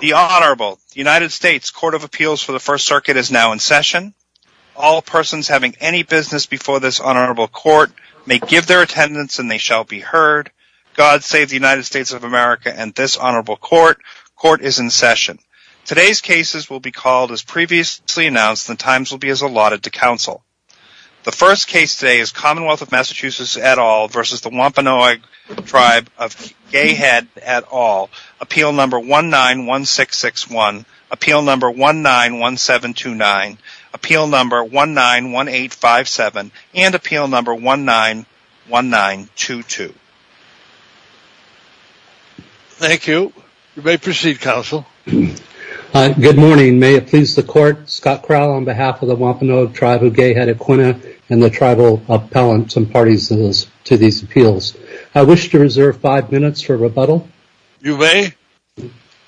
The Honorable United States Court of Appeals for the First Circuit is now in session. All persons having any business before this Honorable Court may give their attendance and they shall be heard. God save the United States of America and this Honorable Court. Court is in session. Today's cases will be called as previously announced and the times will be as allotted to counsel. The first case today is Commonwealth of Massachusetts et al. v. Wampanoag Tribe of Gay Head et al. Appeal No. 191661, Appeal No. 191729, Appeal No. 191857, and Appeal No. 191922. Thank you. You may proceed, Counsel. Good morning. May it please the Court, Scott Crowell on behalf of the Wampanoag Tribe of Gay Head et al. and the Tribal Appellants and Parties to these appeals. I wish to reserve five minutes for rebuttal. You may.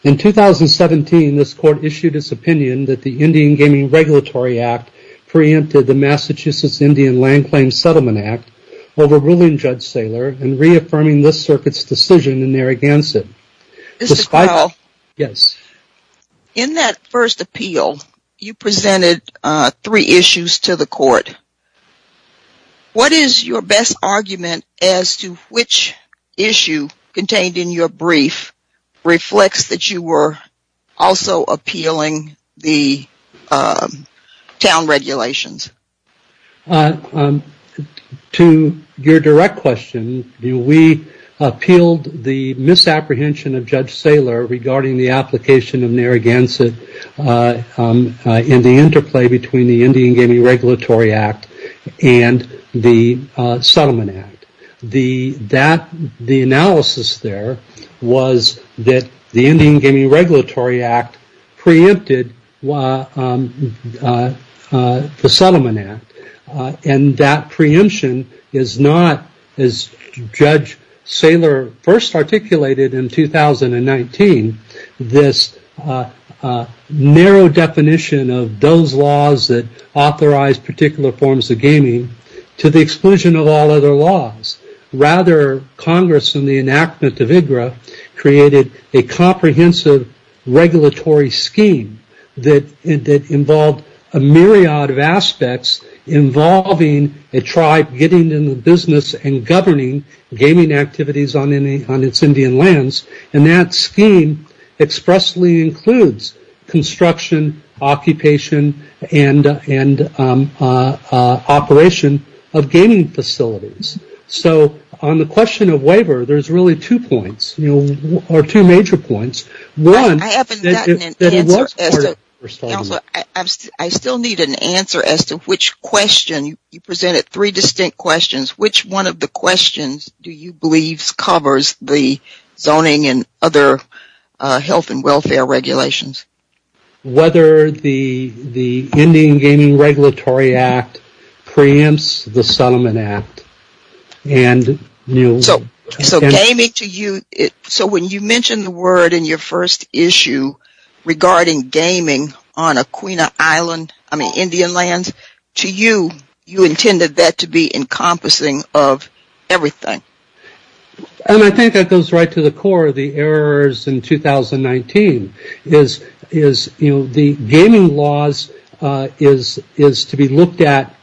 In 2017, this Court issued its opinion that the Indian Gaming Regulatory Act preempted the Massachusetts Indian Land Claims Settlement Act over ruling Judge Saylor in reaffirming this Circuit's decision in Narragansett. Mr. Crowell. Yes. In that first appeal, you presented three issues to the Court. What is your best argument as to which issue contained in your brief reflects that you were also appealing the town regulations? To your direct question, we appealed the misapprehension of Judge Saylor regarding the application of Narragansett in the interplay between the Indian Gaming Regulatory Act and the Settlement Act. The analysis there was that the Indian Gaming Regulatory Act preempted the Settlement Act, and that preemption is not, as Judge Saylor first articulated in 2019, this narrow definition of those laws that authorize particular forms of gaming to the exclusion of all other laws. Rather, Congress, in the enactment of IGRA, created a comprehensive regulatory scheme that involved a myriad of aspects involving a tribe getting into business and governing gaming activities on its Indian lands, and that scheme expressly includes construction, occupation, and operation of gaming facilities. So, on the question of waiver, there's really two points, or two major points. I haven't gotten an answer. Counselor, I still need an answer as to which question. You presented three distinct questions. Which one of the questions do you believe covers the zoning and other health and welfare regulations? Whether the Indian Gaming Regulatory Act preempts the Settlement Act. So, when you mentioned the word in your first issue regarding gaming on Aquina Island, I mean Indian lands, to you, you intended that to be encompassing of everything. I think that goes right to the core of the errors in 2019. The gaming laws is to be looked at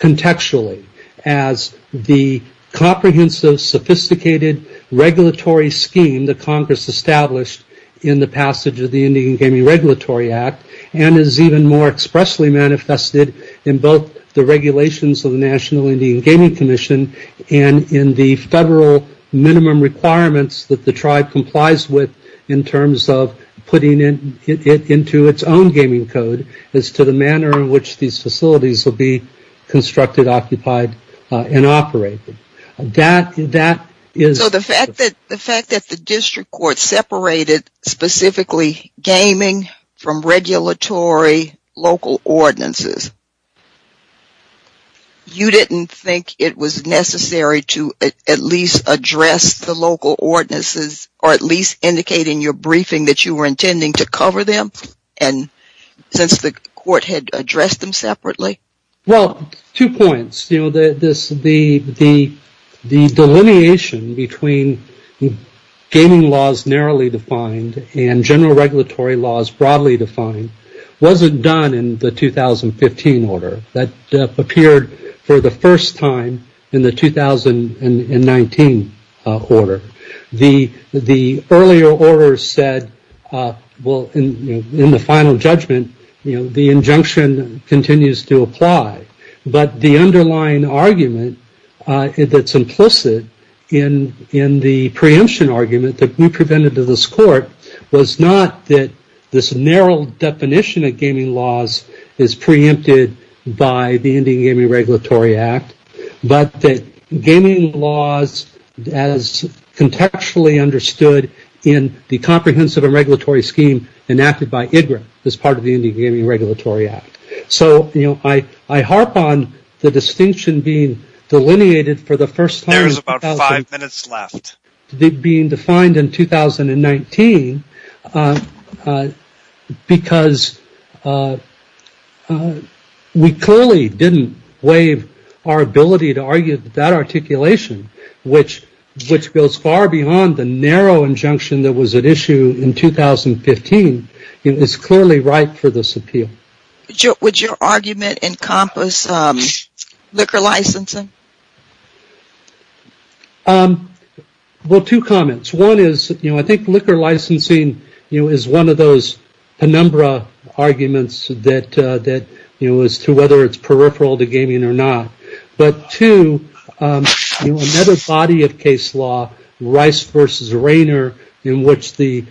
contextually as the comprehensive, sophisticated regulatory scheme that Congress established in the passage of the Indian Gaming Regulatory Act, and is even more expressly manifested in both the regulations of the National Indian Gaming Commission and in the federal minimum requirements that the tribe complies with in terms of putting it into its own gaming code as to the manner in which these facilities will be constructed, occupied, and operated. So, the fact that the district court separated specifically gaming from regulatory local ordinances, you didn't think it was necessary to at least address the local ordinances or at least indicate in your briefing that you were intending to cover them since the court had addressed them separately? Well, two points. The delineation between gaming laws narrowly defined and general regulatory laws broadly defined wasn't done in the 2015 order. That appeared for the first time in the 2019 order. The earlier order said, well, in the final judgment, the injunction continues to apply, but the underlying argument that's implicit in the preemption argument that we presented to this court was not that this narrow definition of gaming laws is preempted by the Indian Gaming Regulatory Act, but that gaming laws as contextually understood in the comprehensive and regulatory scheme enacted by IGRA as part of the Indian Gaming Regulatory Act. So, I harp on the distinction being delineated for the first time. There is about five minutes left. Being defined in 2019, because we clearly didn't waive our ability to argue that articulation, which goes far beyond the narrow injunction that was at issue in 2015, is clearly right for this appeal. Would your argument encompass liquor licensing? Well, two comments. One is, I think liquor licensing is one of those penumbra arguments as to whether it's peripheral to gaming or not. But two, another body of case law, Rice v. Rainer, in which the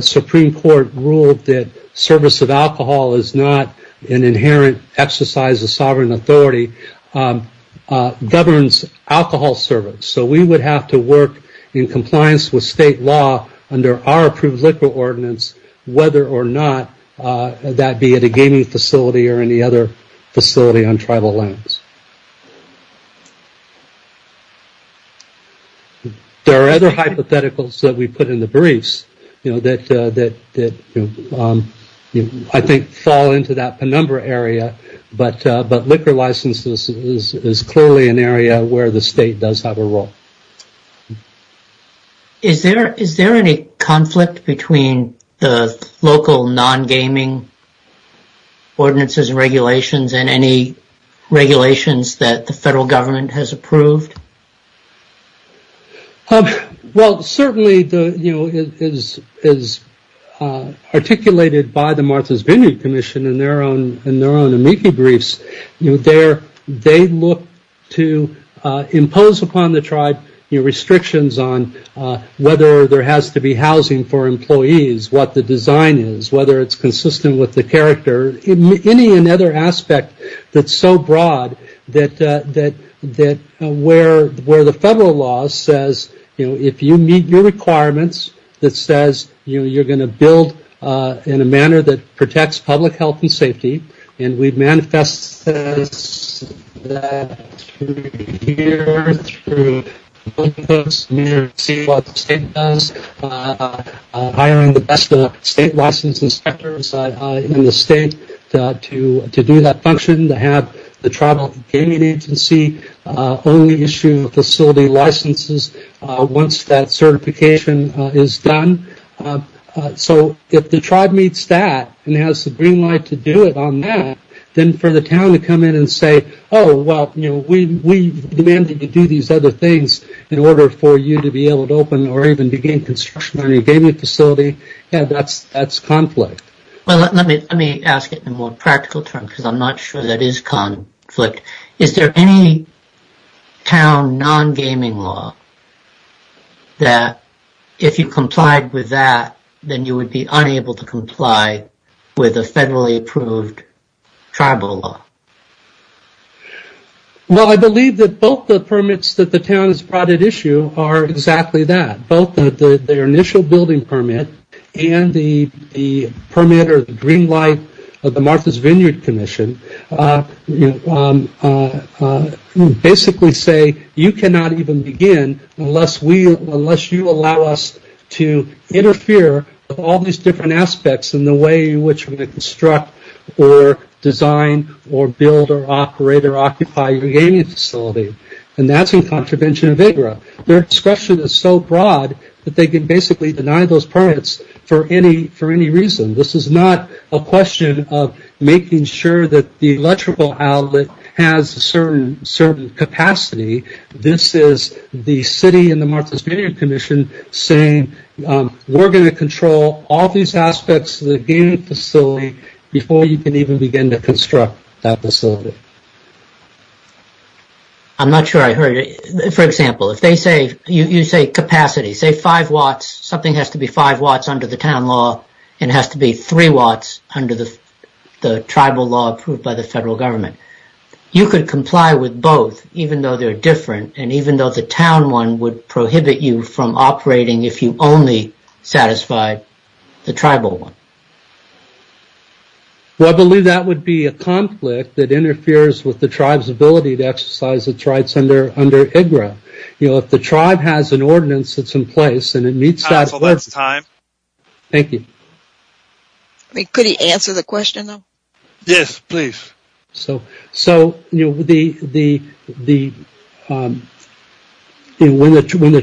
Supreme Court ruled that service of alcohol is not an inherent exercise of sovereign authority, governs alcohol service. So, we would have to work in compliance with state law under our approved liquor ordinance, whether or not that be at a gaming facility or any other facility on tribal lands. There are other hypotheticals that we put in the briefs that I think fall into that penumbra area, but liquor licenses is clearly an area where the state does have a role. Is there any conflict between the local non-gaming ordinances and regulations and any regulations that the federal government has approved? Well, certainly, as articulated by the Martha's Vineyard Commission in their own amici briefs, they look to impose upon the tribe restrictions on whether there has to be housing for employees, what the design is, whether it's consistent with the character, or any other aspect that's so broad that where the federal law says, you know, if you meet your requirements, it says you're going to build in a manner that protects public health and safety. And we've manifested that through here, through folks, to see what the state does, hiring the best state license inspectors in the state to do that function, to have the tribal gaming agency only issue facility licenses once that certification is done. So if the tribe meets that and has the green light to do it on that, then for the town to come in and say, oh, well, you know, we demand that you do these other things in order for you to be able to open or even begin construction on your gaming facility, yeah, that's conflict. Well, let me ask it in a more practical term, because I'm not sure that is conflict. Is there any town non-gaming law that if you complied with that, then you would be unable to comply with a federally approved tribal law? Well, I believe that both the permits that the town has brought at issue are exactly that. Both their initial building permit and the permit or the green light of the Martha's Vineyard Commission basically say, you cannot even begin unless you allow us to interfere with all these different aspects in the way in which we construct or design or build or operate or occupy your gaming facility. And that's in contravention of AGRA. Their discretion is so broad that they can basically deny those permits for any reason. This is not a question of making sure that the electrical outlet has a certain capacity. This is the city and the Martha's Vineyard Commission saying, we're going to control all these aspects of the gaming facility before you can even begin to construct that facility. I'm not sure I heard it. For example, if you say capacity, say five watts, something has to be five watts under the town law and has to be three watts under the tribal law approved by the federal government. You could comply with both even though they're different and even though the town one would prohibit you from operating if you only satisfied the tribal one. Well, I believe that would be a conflict that interferes with the tribe's ability to exercise its rights under AGRA. You know, if the tribe has an ordinance that's in place and it meets that... Council, that's time. Thank you. Could he answer the question, though? Yes, please. So, you know, when the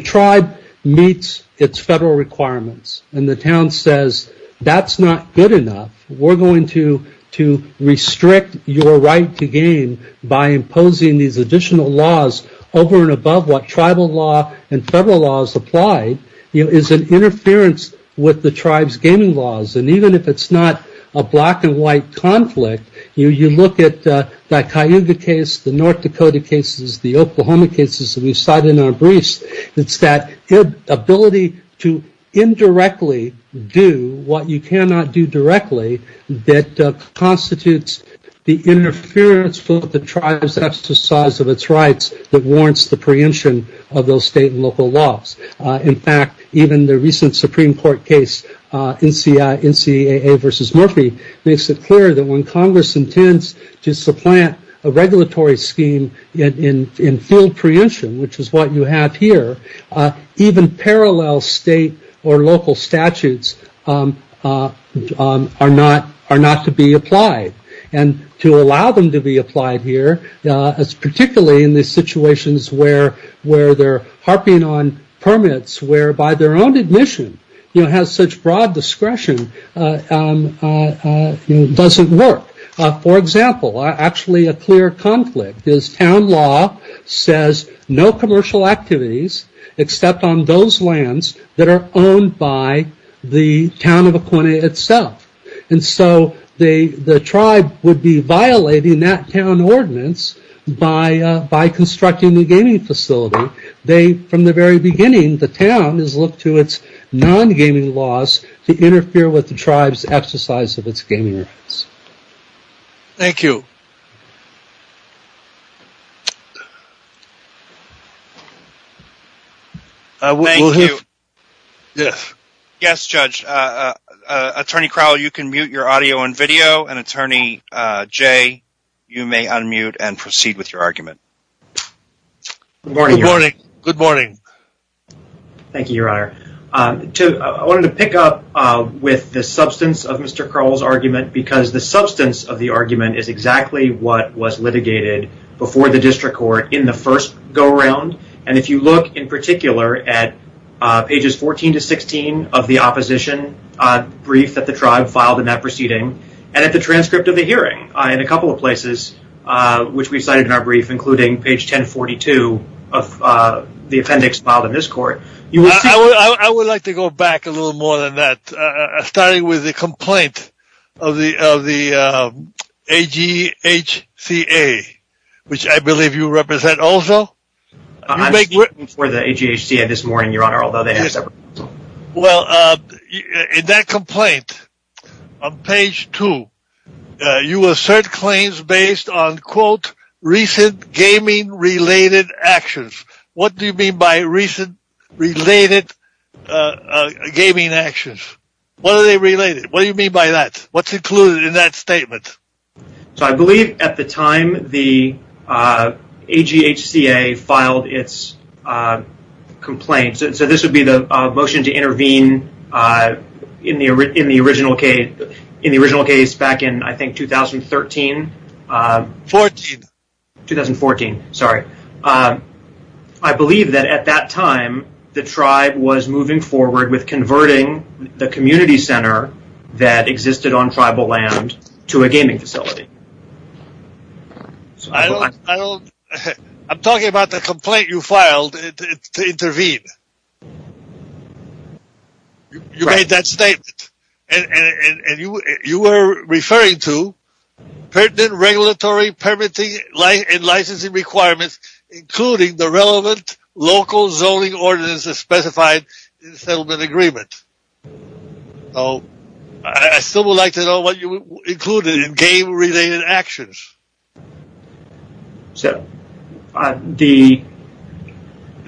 tribe meets its federal requirements and the town says that's not good enough, we're going to restrict your right to game by imposing these additional laws over and above what tribal law and federal law has applied, you know, is an interference with the tribe's gaming laws. And even if it's not a black and white conflict, you look at the Cayuga case, the North Dakota cases, the Oklahoma cases that we've cited in our briefs. It's that ability to indirectly do what you cannot do directly that constitutes the interference with the tribe's exercise of its rights that warrants the preemption of those state and local laws. In fact, even the recent Supreme Court case, NCAA versus Murphy, makes it clear that when Congress intends to supplant a regulatory scheme in full preemption, which is what you have here, even parallel state or local statutes are not to be applied. And to allow them to be applied here, particularly in these situations where they're harping on permits, whereby their own admission has such broad discretion, doesn't work. For example, actually a clear conflict is town law says no commercial activities, except on those lands that are owned by the town of Akwene itself. And so the tribe would be violating that town ordinance by constructing a gaming facility. From the very beginning, the town has looked to its non-gaming laws to interfere with the tribe's exercise of its gaming rights. Thank you. Yes. Yes, Judge. Attorney Crowell, you can mute your audio and video and Attorney Jay, you may unmute and proceed with your argument. Good morning. Good morning. Thank you, Your Honor. I wanted to pick up with the substance of Mr. Crowell's argument because the substance of the argument is exactly what was litigated before the district court in the first go-around. And if you look in particular at pages 14 to 16 of the opposition brief that the tribe filed in that proceeding, and at the transcript of the hearing in a couple of places, which we cited in our brief, including page 1042 of the appendix filed in this court, you will see- I would like to go back a little more than that. Starting with the complaint of the AGHCA, which I believe you represent also. I'm speaking for the AGHCA this morning, Your Honor, although they have separate- Well, in that complaint, on page two, you assert claims based on, quote, recent gaming-related actions. What do you mean by recent related gaming actions? What are they related? What do you mean by that? What's included in that statement? So I believe at the time the AGHCA filed its complaint, so this would be the motion to intervene in the original case back in, I think, 2013. Fourteen. 2014. Sorry. I believe that at that time, the tribe was moving forward with converting the community center that existed on tribal land to a gaming facility. I'm talking about the complaint you filed to intervene. You made that statement. And you were referring to pertinent regulatory, permitting, and licensing requirements, including the relevant local zoning ordinances specified in the settlement agreement. So I still would like to know what you included in game-related actions. So the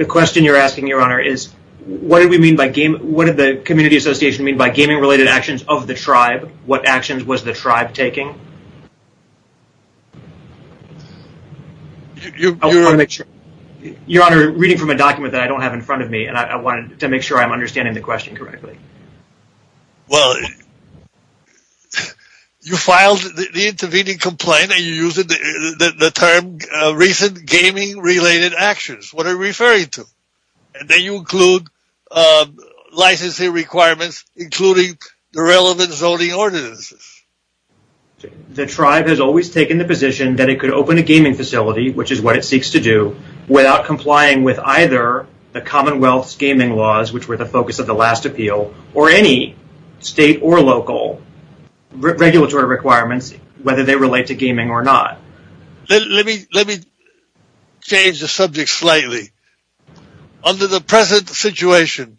question you're asking, Your Honor, is what did we mean by game- What did the community association mean by gaming-related actions of the tribe? What actions was the tribe taking? I want to make sure- Your Honor, reading from a document that I don't have in front of me, I wanted to make sure I'm understanding the question correctly. Well, you filed the intervening complaint, and you used the term recent gaming-related actions. What are you referring to? And then you include licensing requirements, including the relevant zoning ordinances. The tribe has always taken the position that it could open a gaming facility, which is what it seeks to do, without complying with either the Commonwealth's gaming laws, which were the focus of the last appeal, or any state or local regulatory requirements, whether they relate to gaming or not. Let me change the subject slightly. Under the present situation,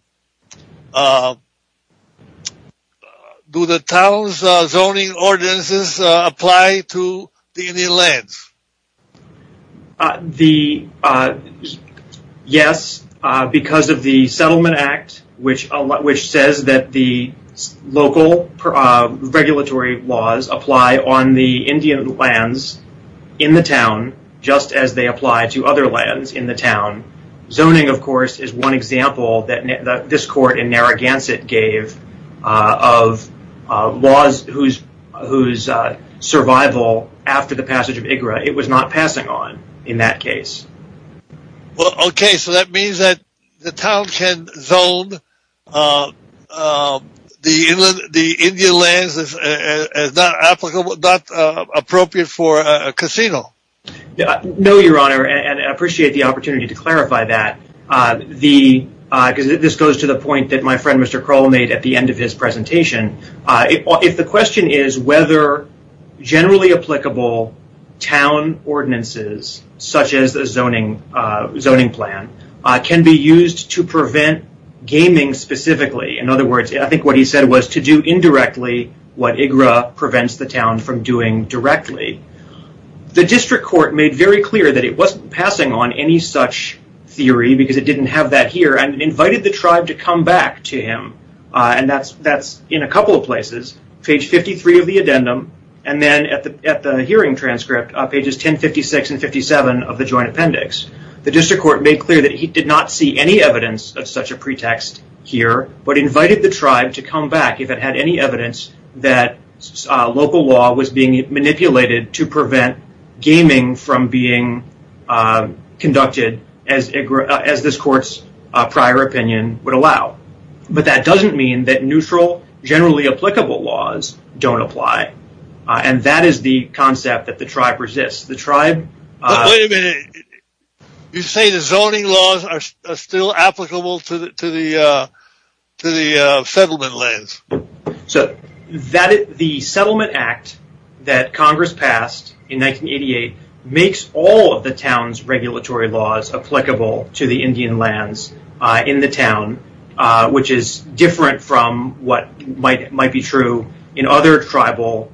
do the town's zoning ordinances apply to the Indian lands? Yes, because of the Settlement Act, which says that the local regulatory laws apply on the Indian lands in the town, just as they apply to other lands in the town. Zoning, of course, is one example that this court in Narragansett gave of laws whose survival, after the passage of IGRA, it was not passing on in that case. Okay, so that means that the town can zone the Indian lands as not appropriate for a casino. No, Your Honor, and I appreciate the opportunity to clarify that. This goes to the point that my friend Mr. Kroll made at the end of his presentation. If the question is whether generally applicable town ordinances, such as the zoning plan, can be used to prevent gaming specifically, in other words, I think what he said was to do indirectly what IGRA prevents the town from doing directly, the district court made very clear that it wasn't passing on any such theory because it didn't have that here, and invited the tribe to come back to him. And that's in a couple of places, page 53 of the addendum, and then at the hearing transcript, pages 1056 and 57 of the joint appendix. The district court made clear that he did not see any evidence of such a pretext here, but invited the tribe to come back if it had any evidence that local law was being manipulated to prevent gaming from being conducted as this court's prior opinion would allow. But that doesn't mean that neutral, generally applicable laws don't apply, and that is the concept that the tribe resists. Wait a minute, you say the zoning laws are still applicable to the settlement lands? So the settlement act that Congress passed in 1988 makes all of the town's regulatory laws applicable to the Indian lands in the town, which is different from what might be true on other tribal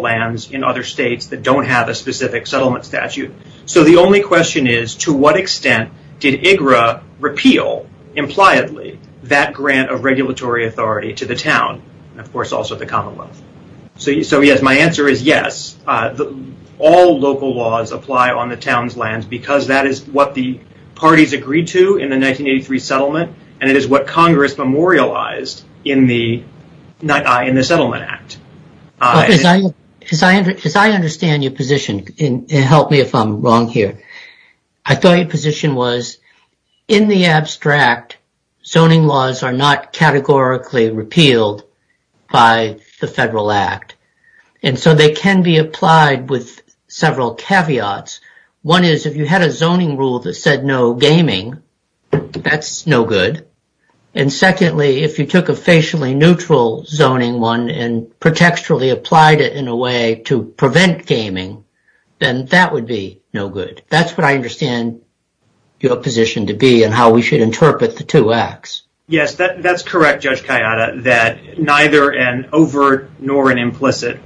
lands in other states that don't have a specific settlement statute. So the only question is, to what extent did IGRA repeal, impliedly, that grant of regulatory authority to the town, and of course also the commonwealth? So yes, my answer is yes, all local laws apply on the town's lands because that is what the parties agreed to in the 1983 settlement, and it is what Congress memorialized in the settlement act. As I understand your position, and help me if I'm wrong here, I thought your position was, in the abstract, zoning laws are not categorically repealed by the federal act, and so they can be applied with several caveats. One is, if you had a zoning rule that said no gaming, that's no good. And secondly, if you took a facially neutral zoning one and pretextually applied it in a way to prevent gaming, then that would be no good. That's what I understand your position to be and how we should interpret the two acts. Yes, that's correct, Judge Kayada, that neither an overt nor an implicit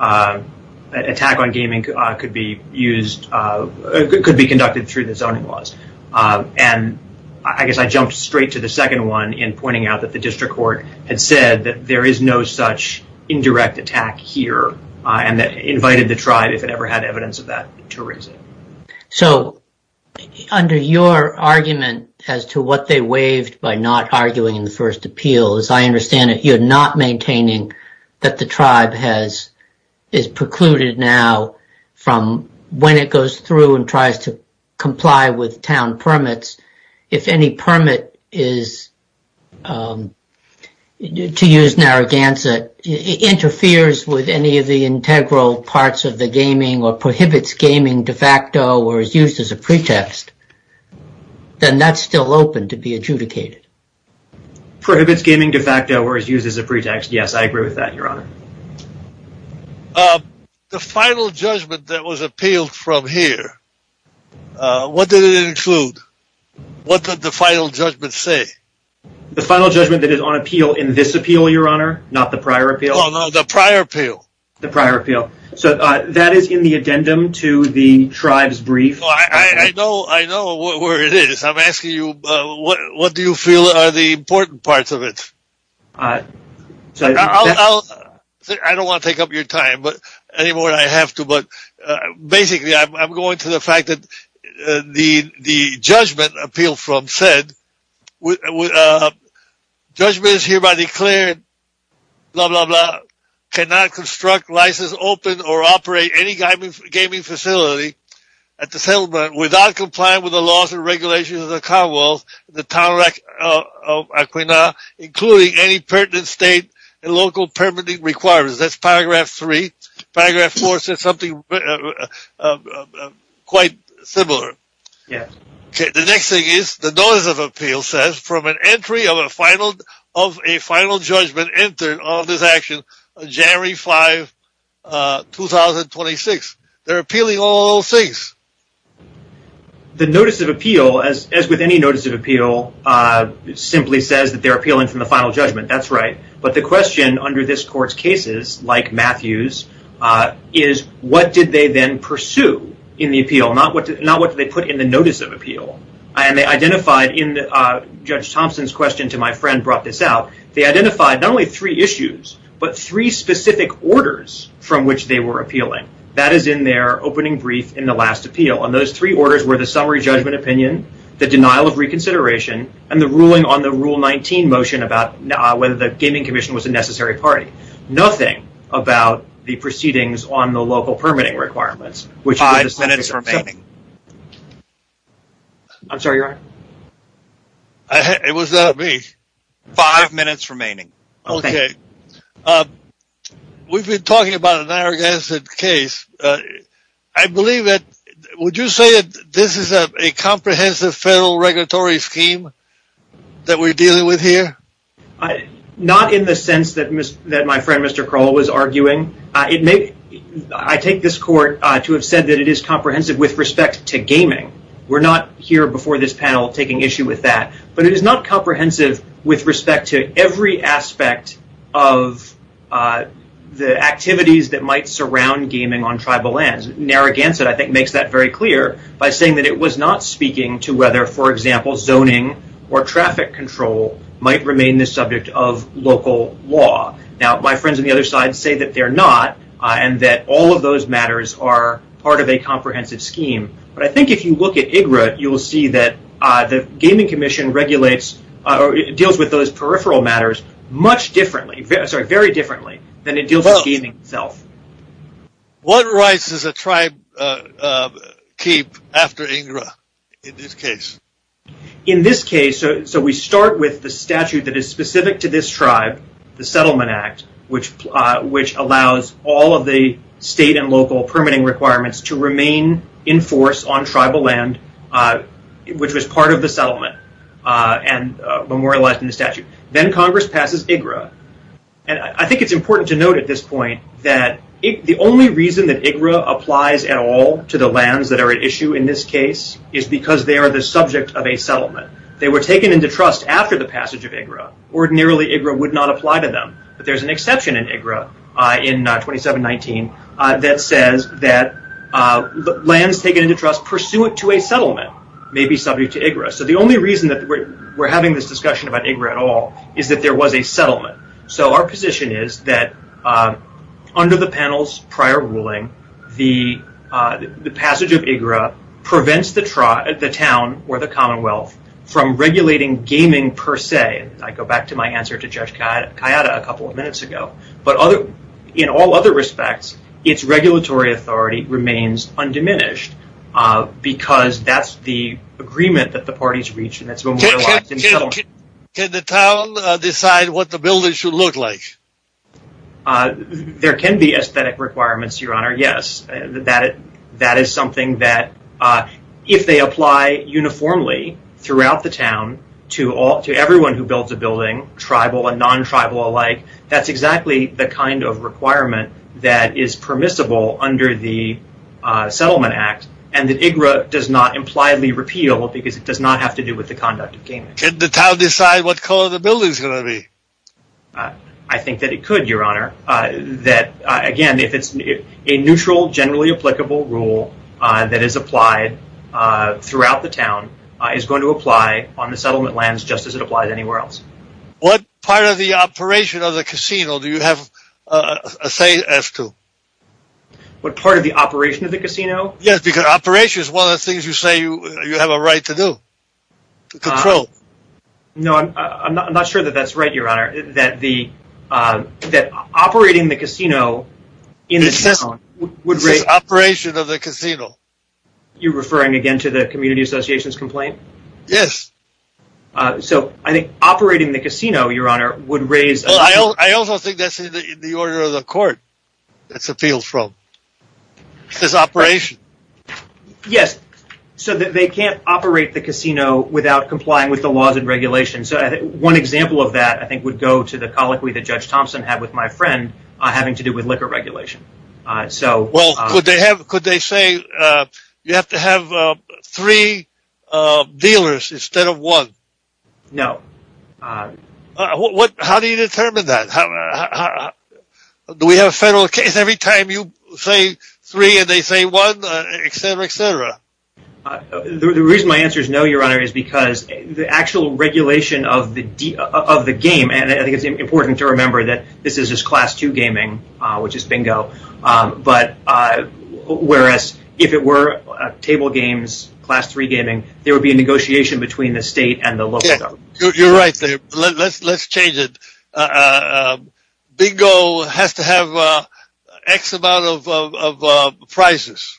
attack on gaming could be used, could be conducted through the zoning laws. And I guess I jumped straight to the second one in pointing out that the district court had said that there is no such indirect attack here and that invited the tribe, if it ever had evidence of that, to raise it. So under your argument as to what they waived by not arguing in the first appeal, as I understand it, you're not maintaining that the tribe is precluded now from when it goes through and tries to comply with town permits. If any permit to use Narragansett interferes with any of the integral parts of the gaming or prohibits gaming de facto or is used as a pretext, then that's still open to be adjudicated. Prohibits gaming de facto or is used as a pretext. Yes, I agree with that, Your Honor. The final judgment that was appealed from here, what did it include? What did the final judgment say? The final judgment that is on appeal in this appeal, Your Honor, not the prior appeal. Oh, no, the prior appeal. The prior appeal. So that is in the addendum to the tribe's brief. I know where it is. I'm asking you, what do you feel are the important parts of it? I don't want to take up your time anymore than I have to, but basically I'm going to the fact that the judgment appealed from said judgments hereby declared blah, blah, blah, cannot construct, license, open, or operate any gaming facility at the settlement without complying with the laws and regulations of the Commonwealth, the town of Aquina, including any pertinent state and local permitting requirements. That's paragraph three. Paragraph four says something quite similar. Yes. Okay. The next thing is the notice of appeal says from an entry of a final judgment entered on this action January 5, 2026. They're appealing all six. The notice of appeal, as with any notice of appeal, simply says that they're appealing from the final judgment. That's right. But the question under this court's cases, like Matthew's, is what did they then pursue in the appeal, not what they put in the notice of appeal. And they identified in Judge Thompson's question to my friend brought this out. They identified not only three issues, but three specific orders from which they were appealing. That is in their opening brief in the last appeal. And those three orders were the summary judgment opinion, the denial of reconsideration, and the ruling on the Rule 19 motion about whether the Gaming Commission was a necessary party. Nothing about the proceedings on the local permitting requirements. Five minutes remaining. I'm sorry, Your Honor. It was not me. Five minutes remaining. Okay. We've been talking about an arrogant case. I believe that would you say that this is a comprehensive federal regulatory scheme that we're dealing with here? Not in the sense that my friend Mr. Crowell was arguing. I take this court to have said that it is comprehensive with respect to gaming. We're not here before this panel taking issue with that. But it is not comprehensive with respect to every aspect of the activities that might surround gaming on tribal lands. Narragansett, I think, makes that very clear by saying that it was not speaking to whether, for example, zoning or traffic control might remain the subject of local law. Now, my friends on the other side say that they're not and that all of those matters are part of a comprehensive scheme. But I think if you look at IGRA, you'll see that the Gaming Commission regulates or deals with those peripheral matters very differently than it deals with gaming itself. What rights does a tribe keep after IGRA in this case? In this case, so we start with the statute that is specific to this tribe, the Settlement Act, which allows all of the state and local permitting requirements to remain in force on tribal land, which was part of the settlement and memorialized in the statute. Then Congress passes IGRA. And I think it's important to note at this point that the only reason that IGRA applies at all to the lands that are at issue in this case is because they are the subject of a settlement. They were taken into trust after the passage of IGRA. Ordinarily, IGRA would not apply to them. But there's an exception in IGRA in 2719 that says that lands taken into trust pursuant to a settlement may be subject to IGRA. So the only reason that we're having this discussion about IGRA at all is that there was a settlement. So our position is that under the panel's prior ruling, the passage of IGRA prevents the town or the commonwealth from regulating gaming per se. I go back to my answer to Judge Kayada a couple of minutes ago. But in all other respects, its regulatory authority remains undiminished because that's the agreement that the parties reach. Can the town decide what the building should look like? There can be aesthetic requirements, Your Honor, yes. That is something that if they apply uniformly throughout the town to everyone who builds a building, tribal and non-tribal alike, that's exactly the kind of requirement that is permissible under the Settlement Act. And that IGRA does not impliedly repeal because it does not have to do with the conduct of gaming. Can the town decide what color the building's going to be? I think that it could, Your Honor. That, again, if it's a neutral, generally applicable rule that is applied throughout the town, is going to apply on the settlement lands just as it applies anywhere else. What part of the operation of the casino do you have a say as to? What part of the operation of the casino? Yes, because operation is one of the things you say you have a right to do, to control. No, I'm not sure that that's right, Your Honor, that operating the casino in the town would raise... This is operation of the casino. You're referring again to the Community Associations complaint? Yes. So, I think operating the casino, Your Honor, would raise... Well, I also think that's in the order of the court that's appealed from. This is operation. Yes, so that they can't operate the casino without complying with the laws and regulations. One example of that, I think, would go to the colloquy that Judge Thompson had with my friend having to do with liquor regulation. Well, could they say you have to have three dealers instead of one? No. How do you determine that? Do we have a federal case every time you say three and they say one, etc., etc.? The reason my answer is no, Your Honor, is because the actual regulation of the game, and I think it's important to remember that this is just class two gaming, which is bingo, but whereas if it were table games, class three gaming, there would be a negotiation between the state and the local government. You're right there. Let's change it. Bingo has to have X amount of prizes.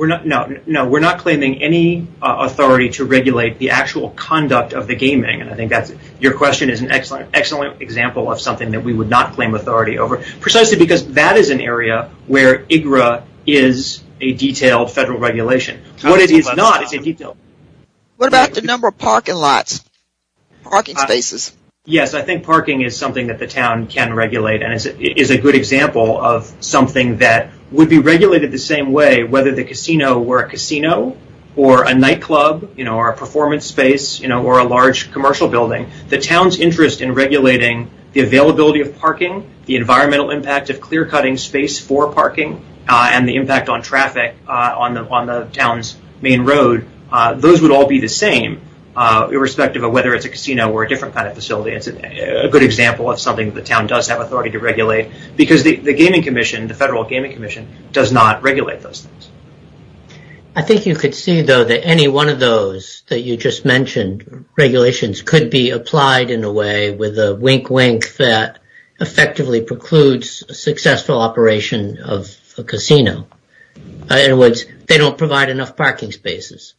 No, we're not claiming any authority to regulate the actual conduct of the gaming, and I think your question is an excellent example of something that we would not claim authority over, precisely because that is an area where IGRA is a detailed federal regulation. What it is not is a detailed... What about the number of parking lots, parking spaces? Yes, I think parking is something that the town can regulate and is a good example of something that would be regulated the same way, whether the casino were a casino or a nightclub or a performance space or a large commercial building. The town's interest in regulating the availability of parking, the environmental impact of clear-cutting space for parking, and the impact on traffic on the town's main road, those would all be the same, irrespective of whether it's a casino or a different kind of facility. It's a good example of something the town does have authority to regulate, because the gaming commission, the federal gaming commission, does not regulate those things. I think you could see, though, that any one of those that you just mentioned, regulations could be applied in a way with a wink-wink that effectively precludes a successful operation of a casino. In other words, they don't provide enough parking spaces.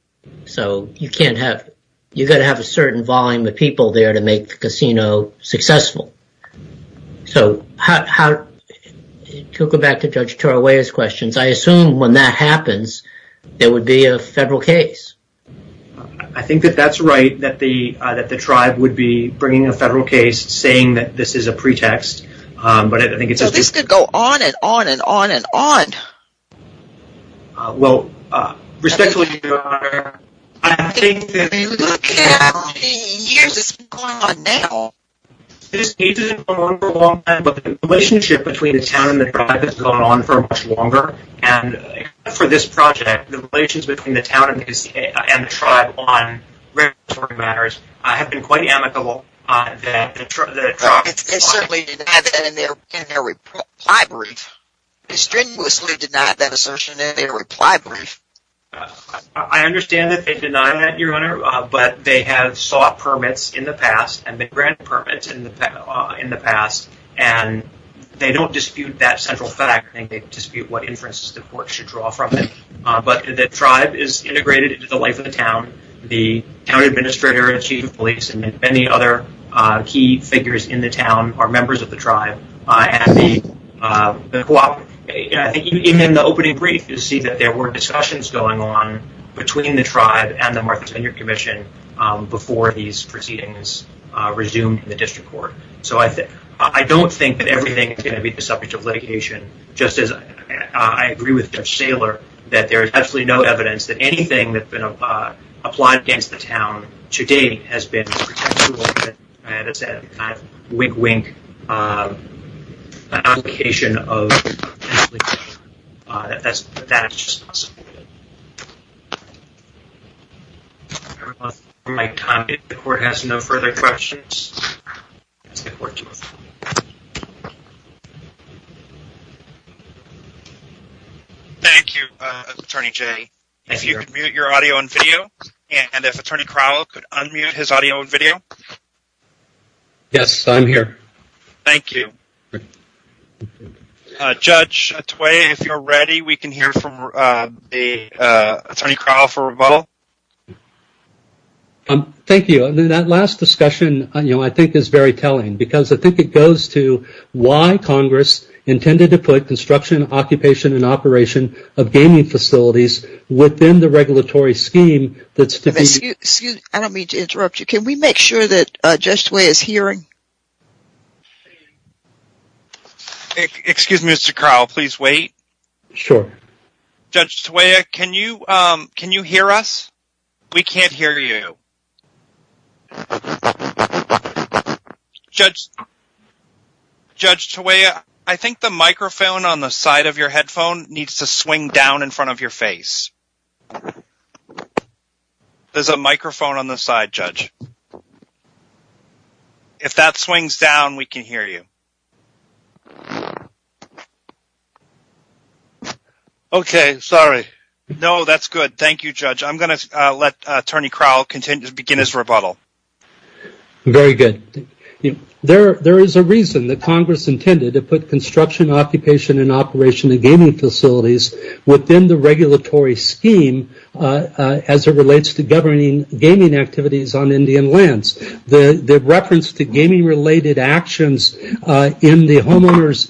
So you can't have... You've got to have a certain volume of people there to make the casino successful. So how... To go back to Judge Tarawaia's questions, I assume when that happens, there would be a federal case. I think that that's right, that the tribe would be bringing a federal case saying that this is a pretext, but I think it's... So this could go on and on and on and on. Well, respectfully, Your Honor, I think that... I mean, look at how many years this has been going on now. This case has been going on for a long time, but the relationship between the town and the tribe has gone on for much longer, and for this project, the relations between the town and the tribe on regulatory matters have been quite amicable. They certainly denied that in their reply brief. They strenuously denied that assertion in their reply brief. I understand that they denied that, Your Honor, but they have sought permits in the past and they've granted permits in the past, and they don't dispute that central fact. I think they dispute what inferences the court should draw from it. But the tribe is integrated into the life of the town. The town administrator and chief of police and many other key figures in the town are members of the tribe, and the cooperative. I think even in the opening brief, you see that there were discussions going on between the tribe and the Martha's Vineyard Commission before these proceedings resumed in the district court. So I don't think that everything is going to be the subject of litigation, just as I agree with Judge Saylor that there is absolutely no evidence that anything that's been applied against the town to date has been a potential, as I said, a kind of wink-wink application of litigation. That is just possible. Everyone, for my time, if the court has no further questions, I'll ask the court to move on. Thank you. Thank you, Attorney Jay. If you could mute your audio and video, and if Attorney Crowell could unmute his audio and video. Yes, I'm here. Thank you. Judge Tway, if you're ready, we can hear from Attorney Crowell for rebuttal. Thank you. That last discussion, I think, is very telling, because I think it goes to why Congress intended to put construction, occupation, and operation of gaming facilities within the regulatory scheme that's to be— Excuse me. I don't mean to interrupt you. Can we make sure that Judge Tway is hearing? Excuse me, Mr. Crowell. Please wait. Sure. Judge Tway, can you hear us? We can't hear you. Judge Tway, I think the microphone on the side of your headphone needs to swing down in front of your face. There's a microphone on the side, Judge. If that swings down, we can hear you. Okay. Sorry. No, that's good. Thank you, Judge. I'm going to let Attorney Crowell begin his rebuttal. Very good. There is a reason that Congress intended to put construction, occupation, and operation of gaming facilities within the regulatory scheme as it relates to governing gaming activities on Indian lands. The reference to gaming-related actions in the homeowner's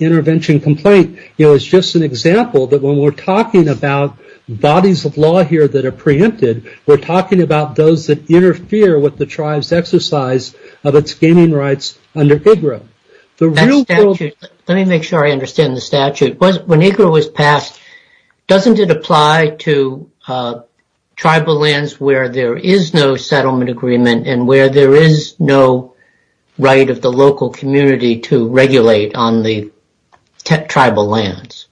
intervention complaint is just an example that when we're talking about bodies of law here that are preempted, we're talking about those that interfere with the tribe's exercise of its gaming rights under IGRA. Let me make sure I understand the statute. When IGRA was passed, doesn't it apply to tribal lands where there is no settlement agreement and where there is no right of the local community to regulate on the tribal lands?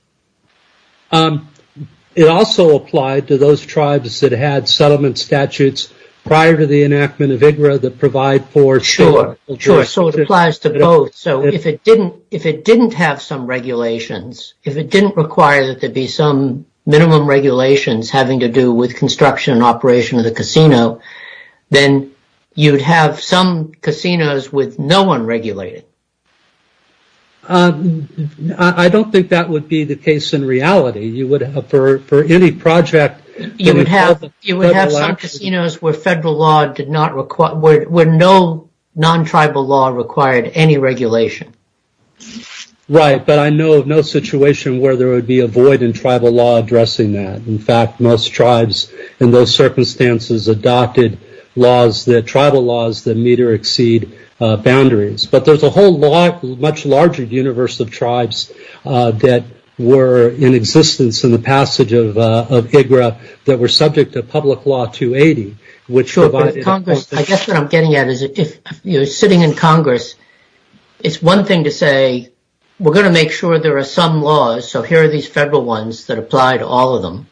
It also applied to those tribes that had settlement statutes prior to the enactment of IGRA that provide for- Sure. Sure. So it applies to both. So if it didn't have some regulations, if it didn't require that there be some minimum regulations having to do with construction and operation of the casino, then you'd have some casinos with no one regulating. I don't think that would be the case in reality. For any project- You would have some casinos where no non-tribal law required any regulation. Right, but I know of no situation where there would be a void in tribal law addressing that. In fact, most tribes in those circumstances adopted laws, tribal laws, that meet or exceed boundaries. But there's a whole much larger universe of tribes that were in existence in the passage of IGRA that were subject to Public Law 280, which provided- Sure, but Congress, I guess what I'm getting at is if you're sitting in Congress, it's one thing to say, we're going to make sure there are some laws, so here are these federal ones that apply to all of them.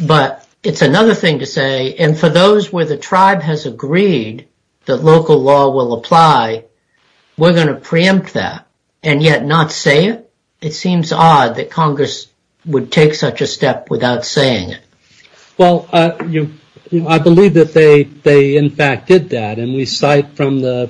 But it's another thing to say, and for those where the tribe has agreed that local law will apply, we're going to preempt that and yet not say it? It seems odd that Congress would take such a step without saying it. Well, I believe that they in fact did that. And we cite from the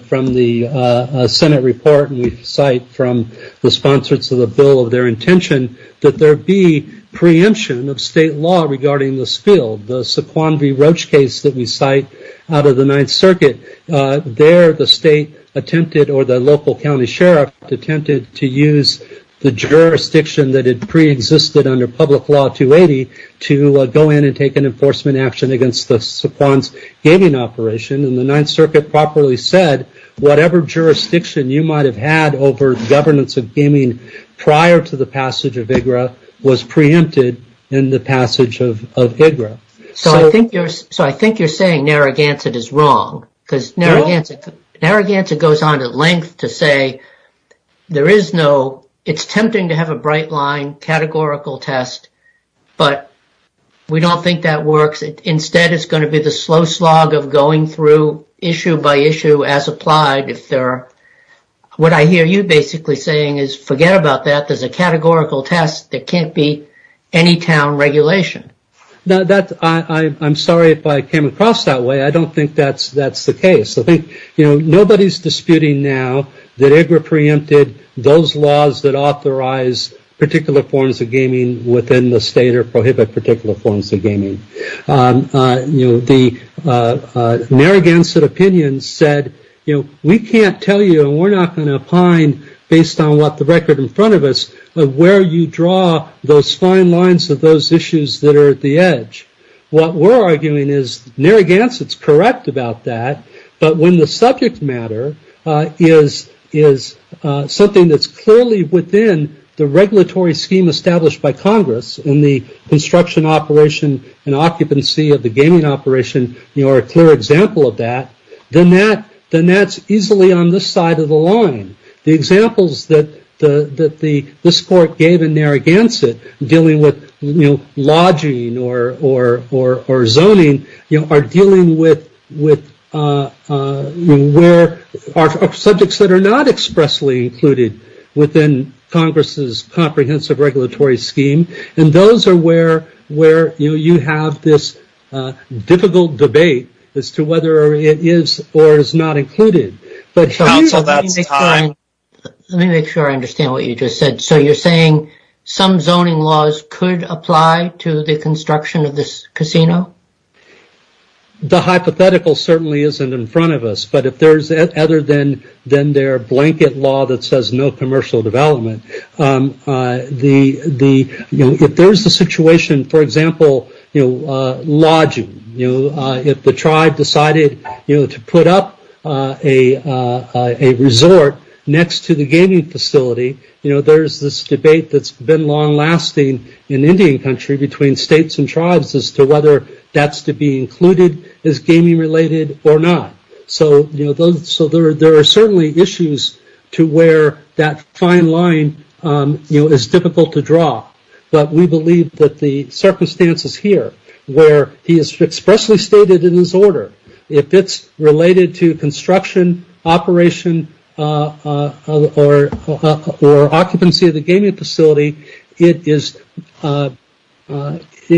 Senate report and we cite from the sponsors of the bill of their intention that there be preemption of state law regarding this field. The Sequan V. Roach case that we cite out of the Ninth Circuit, there the state attempted or the local county sheriff attempted to use the jurisdiction that had preexisted under Public Law 280 to go in and take an enforcement action against the Sequan's gaming operation. And the Ninth Circuit properly said whatever jurisdiction you might have had over governance of gaming prior to the passage of IGRA was preempted in the passage of IGRA. So I think you're saying Narragansett is wrong because Narragansett goes on at length to say it's tempting to have a bright line categorical test, but we don't think that works. Instead, it's going to be the slow slog of going through issue by issue as applied. What I hear you basically saying is forget about that. There's a categorical test. There can't be any town regulation. I'm sorry if I came across that way. I don't think that's the case. I think nobody's disputing now that IGRA preempted those laws that authorize particular forms of gaming within the state or prohibit particular forms of gaming. The Narragansett opinion said we can't tell you and we're not going to opine based on what the record in front of us of where you draw those fine lines of those issues that are at the edge. What we're arguing is Narragansett's correct about that, but when the subject matter is something that's clearly within the regulatory scheme established by Congress and the construction operation and occupancy of the gaming operation are a clear example of that, then that's easily on this side of the line. The examples that this court gave in Narragansett dealing with lodging or zoning are dealing with where are subjects that are not expressly included within Congress's comprehensive regulatory scheme, and those are where you have this difficult debate as to whether it is or is not included. Let me make sure I understand what you just said. So you're saying some zoning laws could apply to the construction of this casino? The hypothetical certainly isn't in front of us, but if there's other than their blanket law that says no commercial development, if there's a situation, for example, lodging, if the tribe decided to put up a resort next to the gaming facility, there's this debate that's been long-lasting in Indian country between states and tribes as to whether that's to be included as gaming-related or not. So there are certainly issues to where that fine line is difficult to draw, but we believe that the circumstances here where he has expressly stated in his order if it's related to construction, operation, or occupancy of the gaming facility, it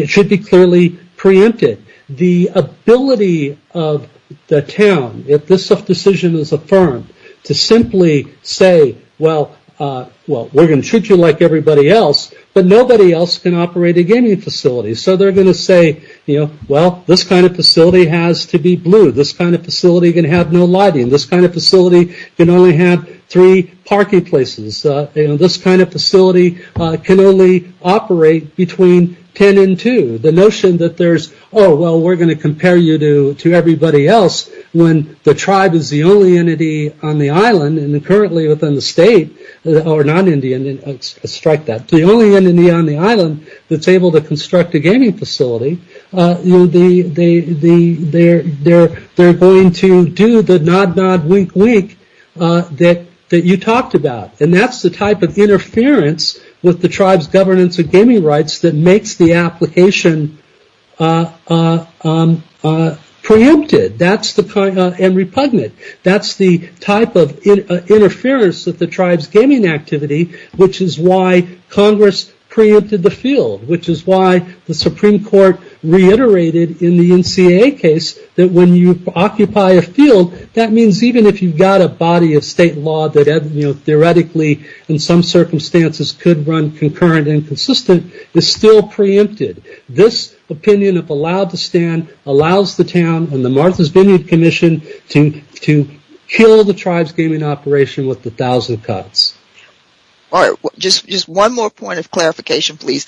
should be clearly preempted. The ability of the town, if this decision is affirmed, to simply say, well, we're going to treat you like everybody else, but nobody else can operate a gaming facility. So they're going to say, well, this kind of facility has to be blue. This kind of facility can have no lighting. This kind of facility can only have three parking places. This kind of facility can only operate between ten and two. The notion that there's, oh, well, we're going to compare you to everybody else when the tribe is the only entity on the island, and currently within the state, or non-Indian, strike that. The only entity on the island that's able to construct a gaming facility, they're going to do the nod, nod, wink, wink that you talked about. And that's the type of interference with the tribe's governance of gaming rights that makes the application preempted and repugnant. That's the type of interference with the tribe's gaming activity, which is why Congress preempted the field, which is why the Supreme Court reiterated in the NCAA case that when you occupy a field, that means even if you've got a body of state law that theoretically, in some circumstances, could run concurrent and consistent, it's still preempted. This opinion, if allowed to stand, allows the town and the Martha's Vineyard Commission to kill the tribe's gaming operation with a thousand cuts. Just one more point of clarification, please.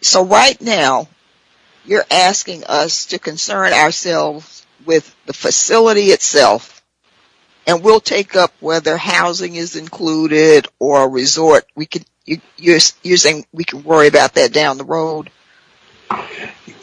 So right now, you're asking us to concern ourselves with the facility itself, and we'll take up whether housing is included or a resort. You're saying we can worry about that down the road?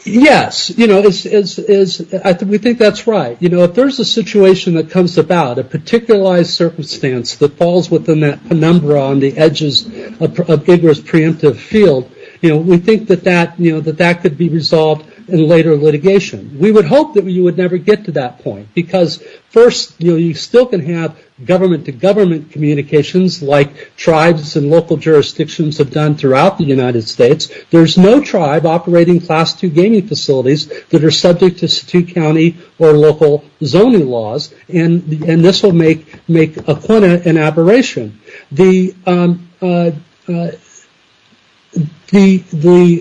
Yes. We think that's right. If there's a situation that comes about, a particularized circumstance that falls within that penumbra on the edges of Igor's preemptive field, we think that that could be resolved in later litigation. We would hope that you would never get to that point because first, you still can have government-to-government communications like tribes and local jurisdictions have done throughout the United States. There's no tribe operating Class II gaming facilities that are subject to state, county, or local zoning laws, and this will make a point of aberration. The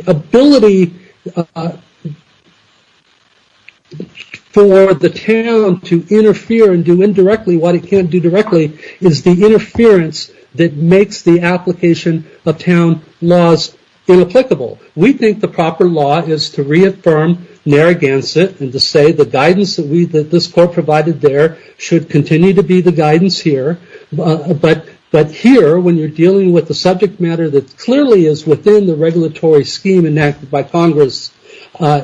ability for the town to interfere and do indirectly what it can't do directly is the interference that makes the application of town laws inapplicable. We think the proper law is to reaffirm Narragansett and to say the guidance that this court provided there should continue to be the guidance here. But here, when you're dealing with a subject matter that clearly is within the regulatory scheme enacted by Congress,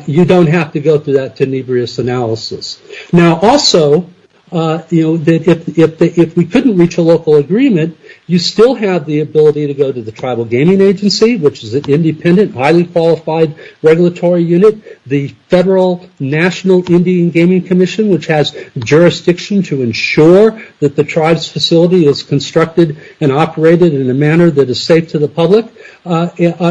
you don't have to go through that tenebrous analysis. Now, also, if we couldn't reach a local agreement, you still have the ability to go to the Tribal Gaming Agency, which is an independent, highly qualified regulatory unit, the Federal National Indian Gaming Commission, which has jurisdiction to ensure that the tribe's facility is constructed and operated in a manner that is safe to the public.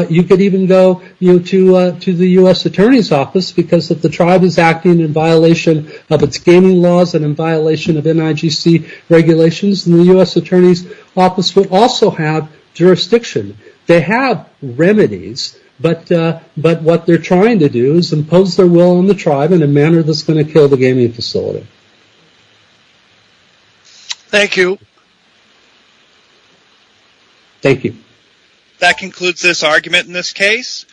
You could even go to the U.S. Attorney's Office because if the tribe is acting in violation of its gaming laws and in violation of NIGC regulations, the U.S. Attorney's Office would also have jurisdiction. They have remedies, but what they're trying to do is impose their will on the tribe in a manner that's going to kill the gaming facility. Thank you. Thank you. That concludes this argument in this case.